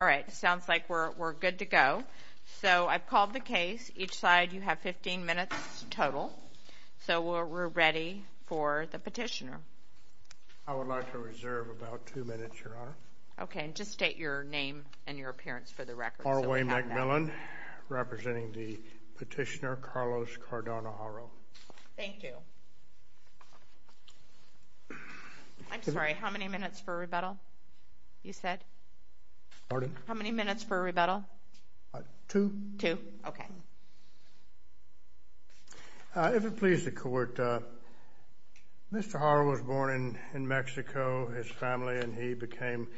All right. Sounds like we're good to go. So I've called the case. Each side, you have 15 minutes total. So we're ready for the petitioner. I would like to reserve about two minutes, Your Honor. Okay. And just state your name and your appearance for the record. R. Wayne McMillan, representing the petitioner Carlos Cardona Haro. Thank you. I'm sorry. How many minutes for rebuttal, you said? Pardon? How many minutes for rebuttal? Two. Two. Okay. If it pleases the Court, Mr. Haro was born in Mexico, his family, and he became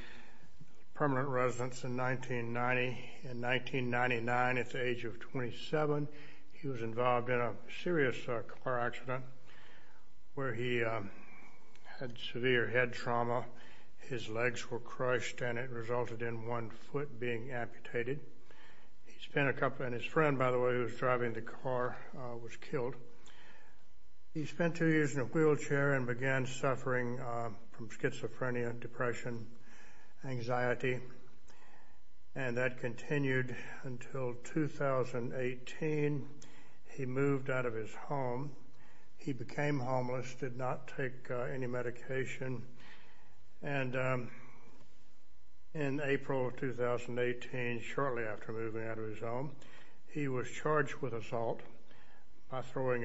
permanent residents in 1990. In 1999, at the age of 27, he was involved in a serious car accident where he had severe head trauma. His legs were crushed, and it resulted in one foot being amputated. He spent a couple – and his friend, by the way, who was driving the car was killed. He spent two years in a wheelchair and began suffering from schizophrenia, depression, anxiety, and that continued until 2018. He moved out of his home. He became homeless, did not take any medication, and in April of 2018, shortly after moving out of his home, he was charged with assault by throwing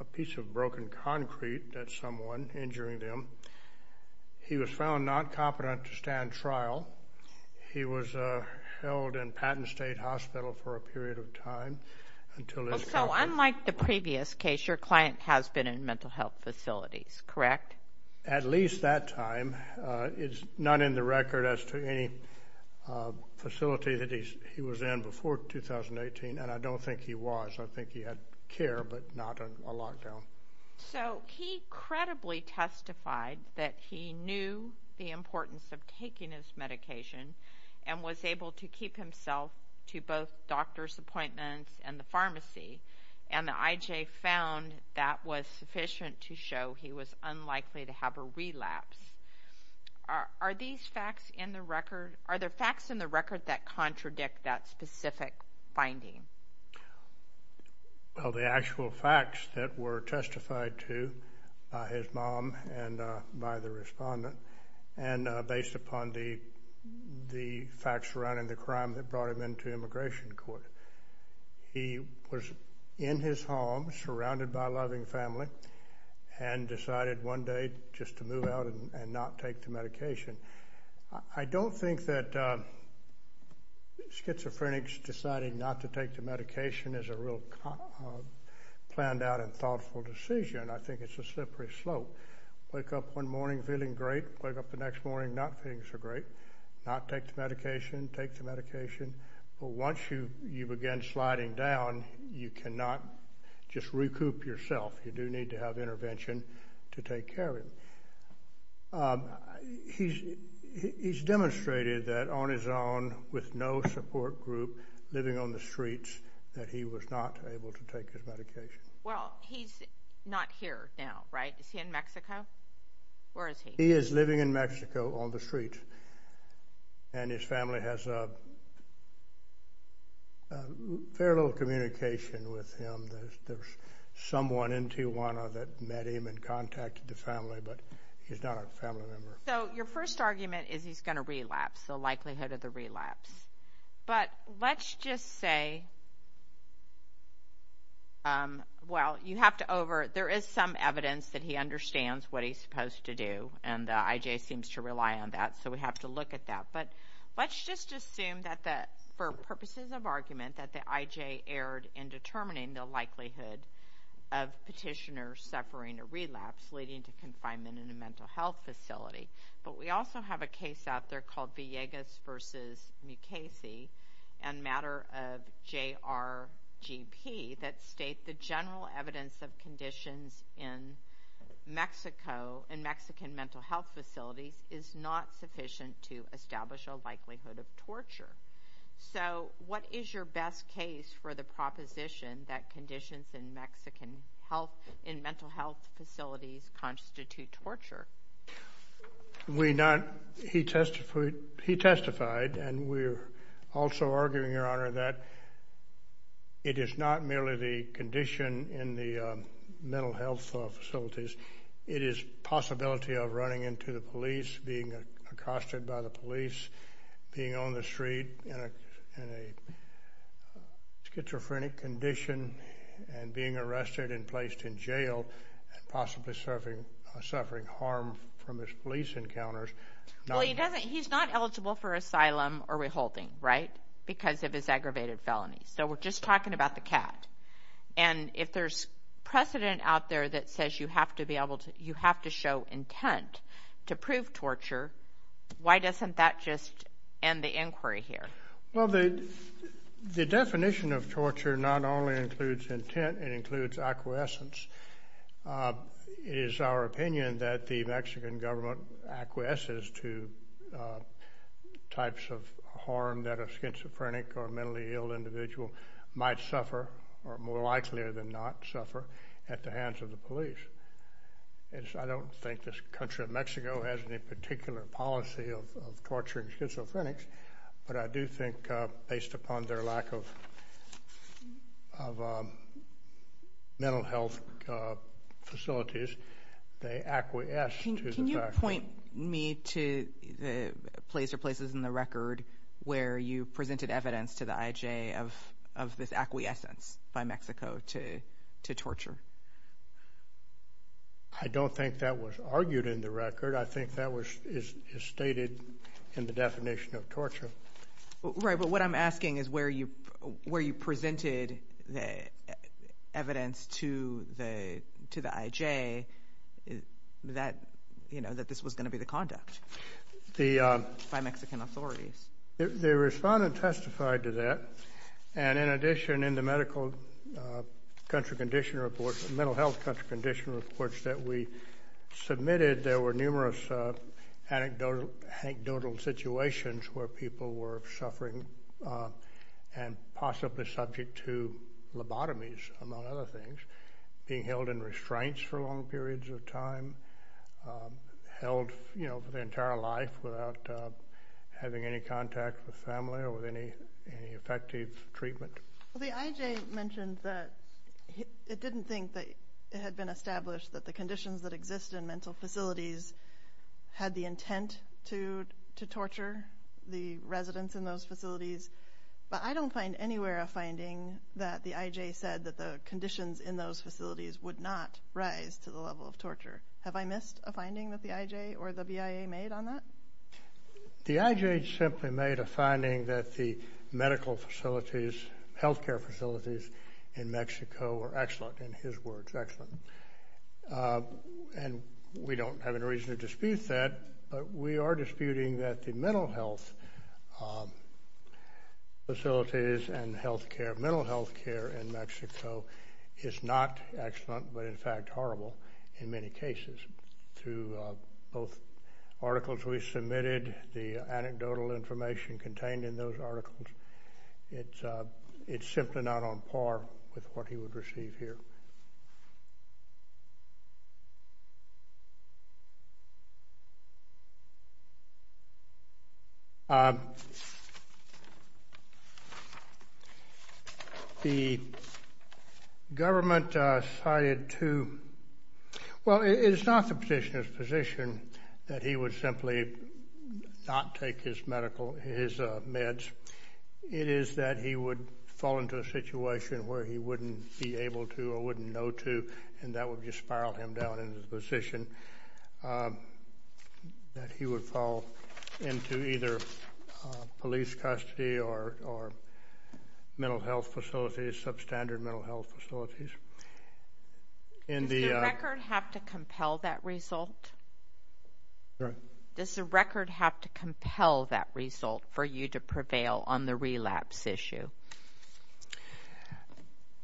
a piece of broken concrete at someone, injuring them. He was found not competent to stand trial. He was held in Patton State Hospital for a period of time until his – So unlike the previous case, your client has been in mental health facilities, correct? At least that time. It's not in the record as to any facility that he was in before 2018, and I don't think he was. I think he had care, but not a lockdown. So he credibly testified that he knew the importance of taking his medication and was able to keep himself to both doctor's appointments and the pharmacy, and the IJ found that was sufficient to show he was unlikely to have a relapse. Are there facts in the record that contradict that specific finding? Well, the actual facts that were testified to by his mom and by the respondent, and based upon the facts surrounding the crime that brought him into immigration court, he was in his home surrounded by a loving family and decided one day just to move out and not take the medication. I don't think that schizophrenics deciding not to take the medication is a real planned out and thoughtful decision. I think it's a slippery slope. Wake up one morning feeling great, wake up the next morning not feeling so great, not take the medication, take the medication. But once you begin sliding down, you cannot just recoup yourself. You do need to have intervention to take care of him. He's demonstrated that on his own with no support group, living on the streets, that he was not able to take his medication. Well, he's not here now, right? Is he in Mexico? Where is he? He is living in Mexico on the streets, and his family has very little communication with him. There's someone in Tijuana that met him and contacted the family, but he's not a family member. So your first argument is he's going to relapse, the likelihood of the relapse. But let's just say, well, you have to over, there is some evidence that he understands what he's supposed to do, and the IJ seems to rely on that, so we have to look at that. But let's just assume that, for purposes of argument, that the IJ erred in determining the likelihood of petitioner suffering a relapse leading to confinement in a mental health facility. But we also have a case out there called Villegas v. Mukasey, a matter of JRGP, that state the general evidence of conditions in Mexico, in Mexican mental health facilities, is not sufficient to establish a likelihood of torture. So what is your best case for the proposition that conditions in Mexican health, in mental health facilities, constitute torture? We not, he testified, and we're also arguing, Your Honor, that it is not merely the condition in the mental health facilities. It is possibility of running into the police, being accosted by the police, being on the street in a schizophrenic condition, and being arrested and placed in jail, and possibly suffering harm from his police encounters. Well, he's not eligible for asylum or reholding, right, because of his aggravated felonies. So we're just talking about the cat. And if there's precedent out there that says you have to show intent to prove torture, why doesn't that just end the inquiry here? Well, the definition of torture not only includes intent, it includes acquiescence. It is our opinion that the Mexican government acquiesces to types of harm that a schizophrenic or mentally ill individual might suffer, or more likely than not suffer, at the hands of the police. I don't think this country of Mexico has any particular policy of torturing schizophrenics, but I do think based upon their lack of mental health facilities, they acquiesce to the fact. Can you point me to places in the record where you presented evidence to the IJ of this acquiescence by Mexico to torture? I don't think that was argued in the record. I think that is stated in the definition of torture. Right, but what I'm asking is where you presented the evidence to the IJ that this was going to be the conduct by Mexican authorities. The respondent testified to that, and in addition, in the medical country condition reports, the mental health country condition reports that we submitted, there were numerous anecdotal situations where people were suffering and possibly subject to lobotomies, among other things, being held in restraints for long periods of time, held for their entire life without having any contact with family or with any effective treatment. The IJ mentioned that it didn't think that it had been established that the conditions that exist in mental facilities had the intent to torture the residents in those facilities, but I don't find anywhere a finding that the IJ said that the conditions in those facilities would not rise to the level of torture. Have I missed a finding that the IJ or the BIA made on that? The IJ simply made a finding that the medical facilities, health care facilities in Mexico were excellent, in his words, excellent. And we don't have any reason to dispute that, but we are disputing that the mental health facilities and health care, mental health care in Mexico is not excellent, but in fact horrible in many cases. Through both articles we submitted, the anecdotal information contained in those articles, it's simply not on par with what he would receive here. The government decided to, well, it's not the petitioner's position that he would simply not take his medical, his meds. It is that he would fall into a situation where he wouldn't be able to or wouldn't know to, and that would just spiral him down into the position that he would fall into either police custody or mental health facilities, substandard mental health facilities. Does the record have to compel that result? Does the record have to compel that result for you to prevail on the relapse issue?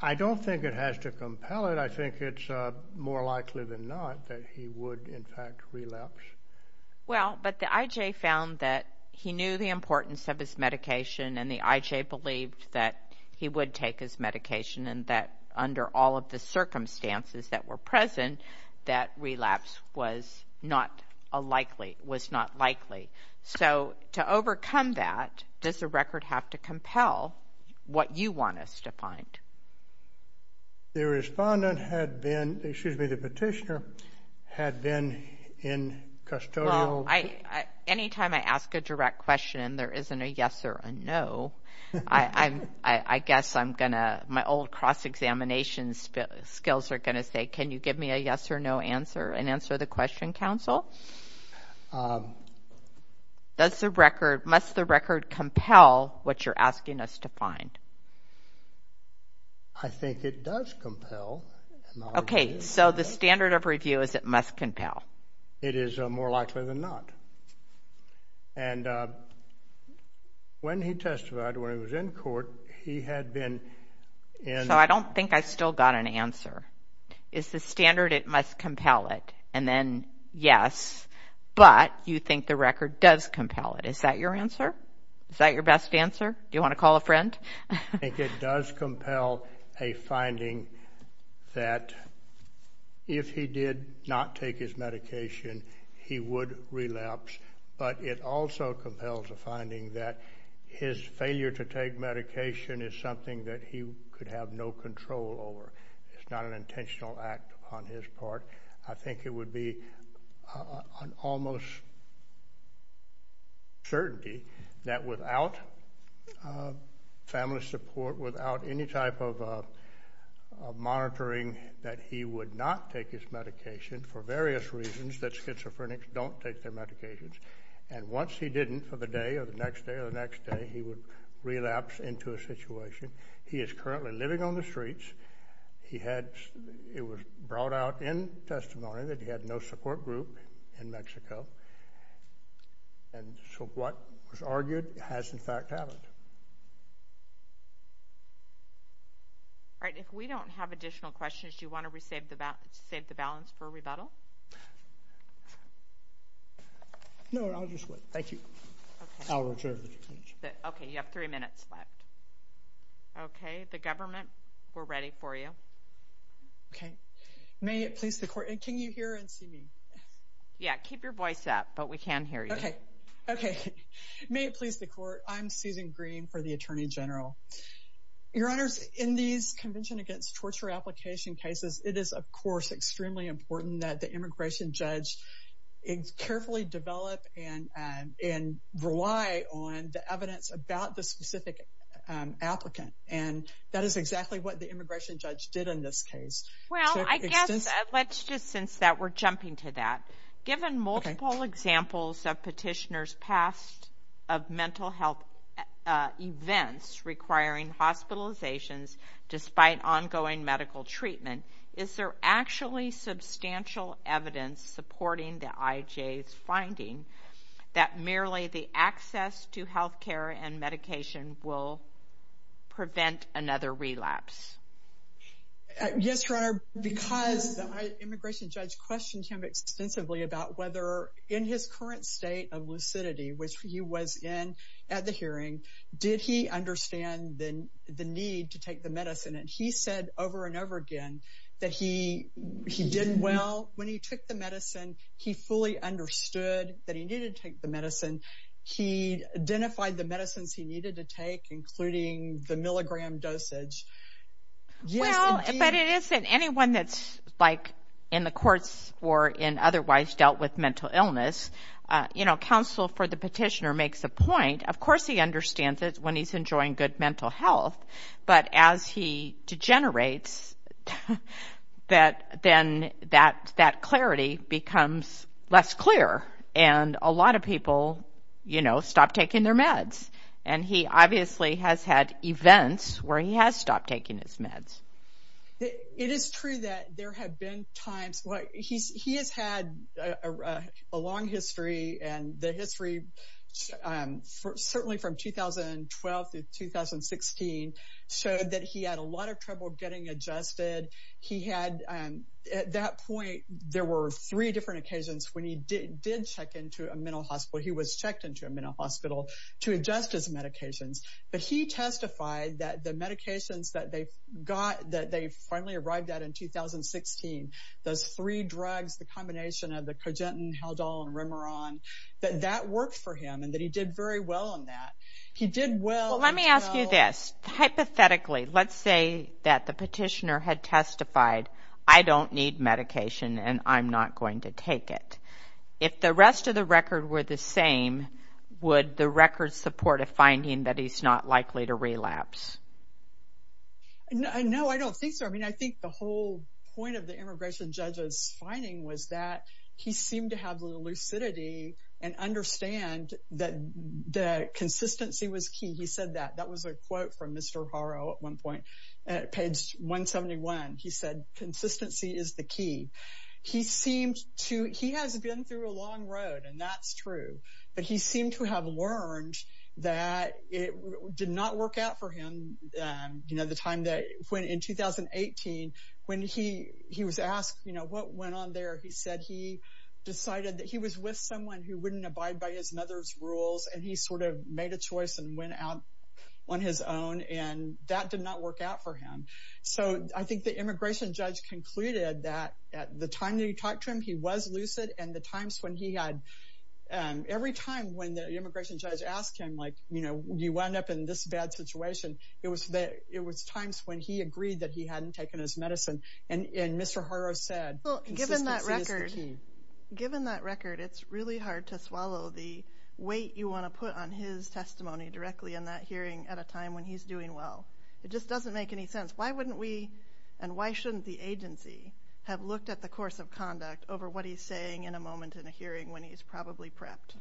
I don't think it has to compel it. I think it's more likely than not that he would, in fact, relapse. Well, but the IJ found that he knew the importance of his medication, and the IJ believed that he would take his medication and that under all of the circumstances that were present, that relapse was not likely. So to overcome that, does the record have to compel what you want us to find? The respondent had been, excuse me, the petitioner had been in custodial. Well, any time I ask a direct question, there isn't a yes or a no. I guess I'm going to, my old cross-examination skills are going to say, can you give me a yes or no answer and answer the question, counsel? Does the record, must the record compel what you're asking us to find? I think it does compel. Okay, so the standard of review is it must compel. It is more likely than not. And when he testified, when he was in court, he had been in. So I don't think I still got an answer. Is the standard it must compel it, and then yes, but you think the record does compel it. Is that your answer? Is that your best answer? Do you want to call a friend? I think it does compel a finding that if he did not take his medication, he would relapse. But it also compels a finding that his failure to take medication is something that he could have no control over. It's not an intentional act on his part. I think it would be an almost certainty that without family support, without any type of monitoring that he would not take his medication for various reasons, that schizophrenics don't take their medications. And once he didn't for the day or the next day or the next day, he would relapse into a situation. He is currently living on the streets. It was brought out in testimony that he had no support group in Mexico. And so what was argued has, in fact, happened. All right. If we don't have additional questions, do you want to save the balance for a rebuttal? No, I'll just wait. Thank you. I'll reserve the conclusion. Okay. You have three minutes left. Okay. The government, we're ready for you. Okay. May it please the court. Can you hear and see me? Yeah, keep your voice up, but we can hear you. Okay. May it please the court. I'm Susan Green for the Attorney General. Your Honors, in these Convention Against Torture Application cases, it is, of course, extremely important that the immigration judge carefully develop and rely on the evidence about the specific applicant. And that is exactly what the immigration judge did in this case. Well, I guess let's just since that we're jumping to that. Given multiple examples of petitioners' past of mental health events requiring hospitalizations despite ongoing medical treatment, is there actually substantial evidence supporting the IJ's finding that merely the access to health care and medication will prevent another relapse? Yes, Your Honor. Because the immigration judge questioned him extensively about whether in his current state of lucidity, which he was in at the hearing, did he understand the need to take the medicine. And he said over and over again that he did well when he took the medicine. He fully understood that he needed to take the medicine. He identified the medicines he needed to take, including the milligram dosage. Yes, indeed. Well, but it isn't anyone that's like in the courts or in otherwise dealt with mental illness. You know, counsel for the petitioner makes a point. Of course he understands it when he's enjoying good mental health. But as he degenerates, then that clarity becomes less clear. And a lot of people, you know, stop taking their meds. And he obviously has had events where he has stopped taking his meds. It is true that there have been times. He has had a long history, and the history certainly from 2012 through 2016 showed that he had a lot of trouble getting adjusted. He had, at that point, there were three different occasions when he did check into a mental hospital. He was checked into a mental hospital to adjust his medications. But he testified that the medications that they finally arrived at in 2016, those three drugs, the combination of the cogentin, Haldol, and Remeron, that that worked for him and that he did very well in that. He did well. Let me ask you this. Hypothetically, let's say that the petitioner had testified, I don't need medication and I'm not going to take it. If the rest of the record were the same, would the record support a finding that he's not likely to relapse? No, I don't think so. I mean, I think the whole point of the immigration judge's finding was that he seemed to have the lucidity and understand that the consistency was key. He said that. That was a quote from Mr. Haro at one point, page 171. He said, consistency is the key. He has been through a long road, and that's true, but he seemed to have learned that it did not work out for him. In 2018, when he was asked what went on there, he said he decided that he was with someone who wouldn't abide by his own, and that did not work out for him. So I think the immigration judge concluded that at the time that he talked to him, he was lucid, and the times when he had, every time when the immigration judge asked him, like, you know, you wind up in this bad situation, it was times when he agreed that he hadn't taken his medicine, and Mr. Haro said consistency is the key. Given that record, it's really hard to swallow the weight you want to put on his testimony directly in that hearing at a time when he's doing well. It just doesn't make any sense. Why wouldn't we, and why shouldn't the agency, have looked at the course of conduct over what he's saying in a moment in a hearing when he's probably prepped?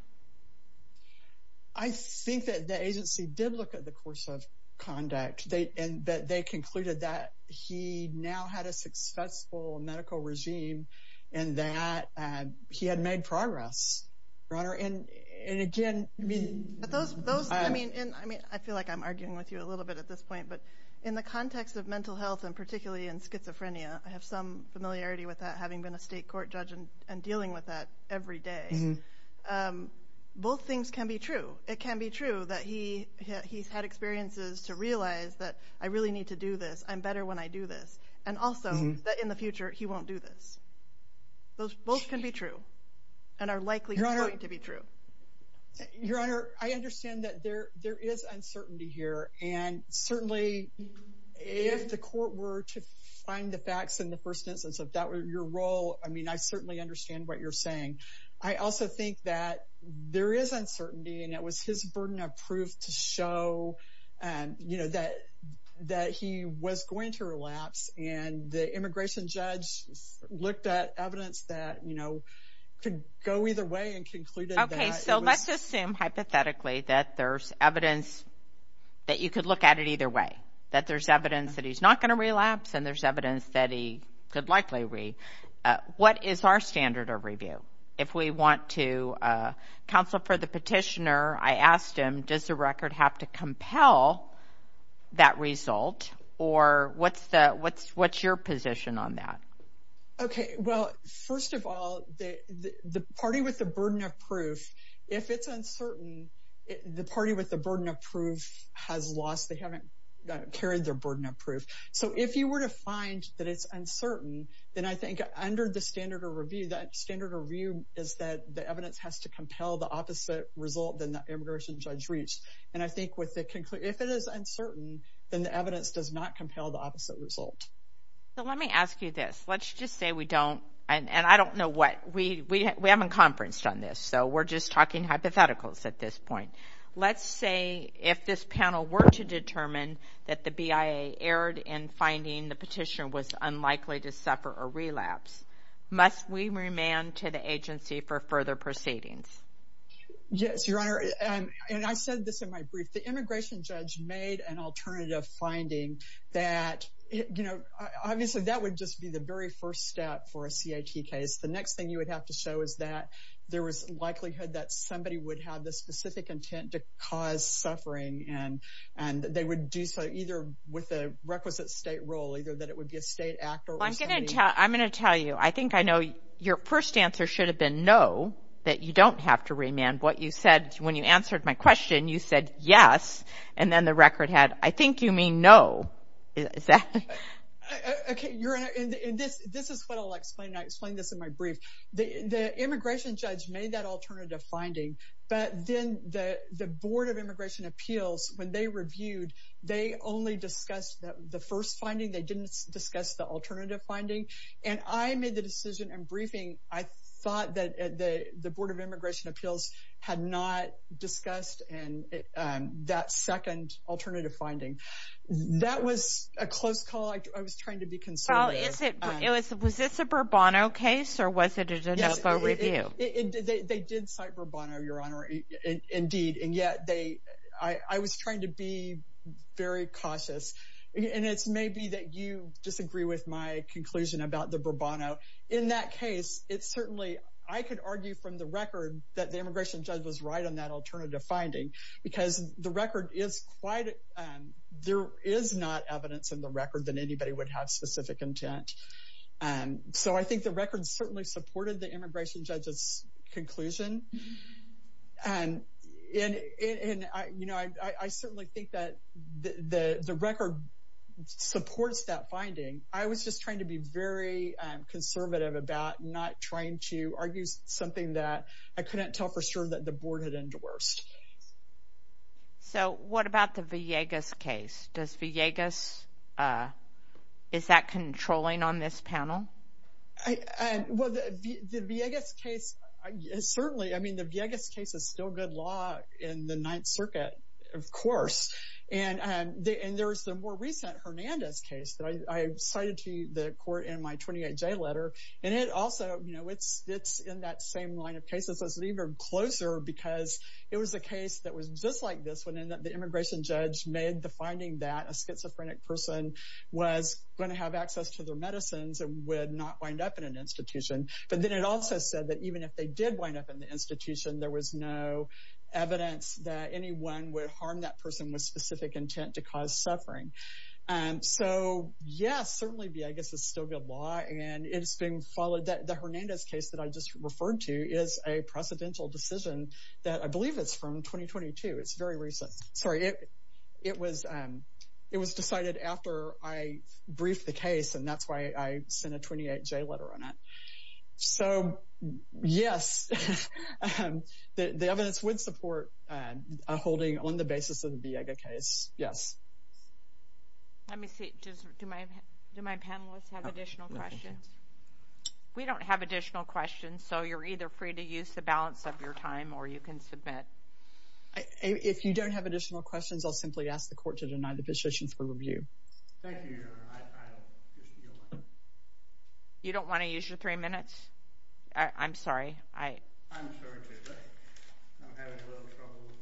I think that the agency did look at the course of conduct, and that they concluded that he now had a successful medical regime, and that he had made progress, Your Honor. I feel like I'm arguing with you a little bit at this point, but in the context of mental health, and particularly in schizophrenia, I have some familiarity with that, having been a state court judge and dealing with that every day. Both things can be true. It can be true that he's had experiences to realize that I really need to do this, I'm better when I do this, and also that in the future, he won't do this. Both can be true, and are likely going to be true. Your Honor, I understand that there is uncertainty here, and certainly if the court were to find the facts in the first instance of your role, I mean, I certainly understand what you're saying. I also think that there is uncertainty, and it was his burden of proof to show that he was going to relapse, and the immigration judge looked at evidence that could go either way and concluded that. Okay, so let's assume, hypothetically, that there's evidence that you could look at it either way, that there's evidence that he's not going to relapse, and there's evidence that he could likely relapse. What is our standard of review? If we want to counsel for the petitioner, I asked him, does the record have to compel that result, or what's your position on that? Okay, well, first of all, the party with the burden of proof, if it's uncertain, the party with the burden of proof has lost, they haven't carried their burden of proof. So if you were to find that it's uncertain, then I think under the standard of review, that standard of review is that the evidence has to compel the opposite result than the immigration judge reached. And I think if it is uncertain, then the evidence does not compel the opposite result. So let me ask you this. Let's just say we don't, and I don't know what, we haven't conferenced on this, so we're just talking hypotheticals at this point. Let's say if this panel were to determine that the BIA erred in finding the petitioner was unlikely to suffer a relapse, must we remand to the agency for further proceedings? Yes, Your Honor. And I said this in my brief. The immigration judge made an alternative finding that, you know, obviously that would just be the very first step for a CIT case. The next thing you would have to show is that there was likelihood that somebody would have the specific intent to cause suffering, and they would do so either with a requisite state role, either that it would be a state actor. I'm going to tell you, I think I know your first answer should have been no, that you don't have to remand. What you said when you answered my question, you said yes, and then the record had, I think you mean no. Okay, Your Honor, and this is what I'll explain, and I explained this in my brief. The immigration judge made that alternative finding, but then the Board of Immigration Appeals, when they reviewed, they only discussed the first finding. They didn't discuss the alternative finding. And I made the decision in briefing, I thought that the Board of Immigration Appeals had not discussed that second alternative finding. That was a close call. I was trying to be conservative. Well, was this a Burbano case, or was it a DeNovo review? They did cite Burbano, Your Honor, indeed, and yet I was trying to be very cautious. And it's maybe that you disagree with my conclusion about the Burbano. In that case, it's certainly, I could argue from the record that the immigration judge was right on that alternative finding, because the record is quite, there is not evidence in the record that anybody would have specific intent. So I think the record certainly supported the immigration judge's conclusion. And I certainly think that the record supports that finding. I was just trying to be very conservative about not trying to argue something that I couldn't tell for sure that the Board had endorsed. So what about the Villegas case? Does Villegas, is that controlling on this panel? Well, the Villegas case, certainly, I mean, the Villegas case is still good law in the Ninth Circuit, of course. And there's the more recent Hernandez case that I cited to the court in my 28J letter. And it also, you know, it's in that same line of cases. It's even closer because it was a case that was just like this one in that the immigration judge made the finding that a schizophrenic person was going to have access to their medicines and would not wind up in an institution. But then it also said that even if they did wind up in the institution, there was no evidence that anyone would harm that person with specific intent to cause suffering. So, yes, certainly Villegas is still good law, and it's being followed. The Hernandez case that I just referred to is a precedential decision that I believe is from 2022. It's very recent. Sorry, it was decided after I briefed the case, and that's why I sent a 28J letter on it. So, yes, the evidence would support a holding on the basis of the Villegas case. Yes. Let me see. Do my panelists have additional questions? We don't have additional questions, so you're either free to use the balance of your time or you can submit. If you don't have additional questions, I'll simply ask the court to deny the position for review. Thank you, Your Honor. You don't want to use your three minutes? I'm sorry. I'm sorry, too, but I'm having a little trouble with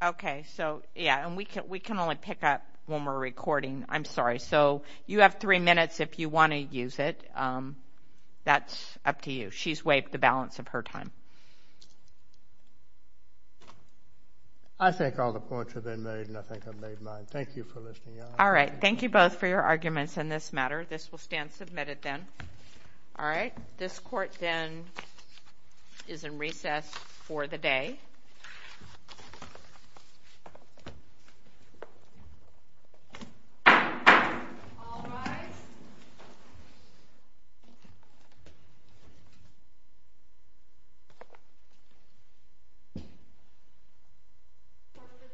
my… Okay. So, yes, and we can only pick up when we're recording. I'm sorry. So you have three minutes if you want to use it. That's up to you. She's waived the balance of her time. I think all the points have been made, and I think I've made mine. Thank you for listening, Your Honor. All right. Thank you both for your arguments in this matter. This will stand submitted then. All right. This court then is in recess for the day. All rise. Court is in recess for the day.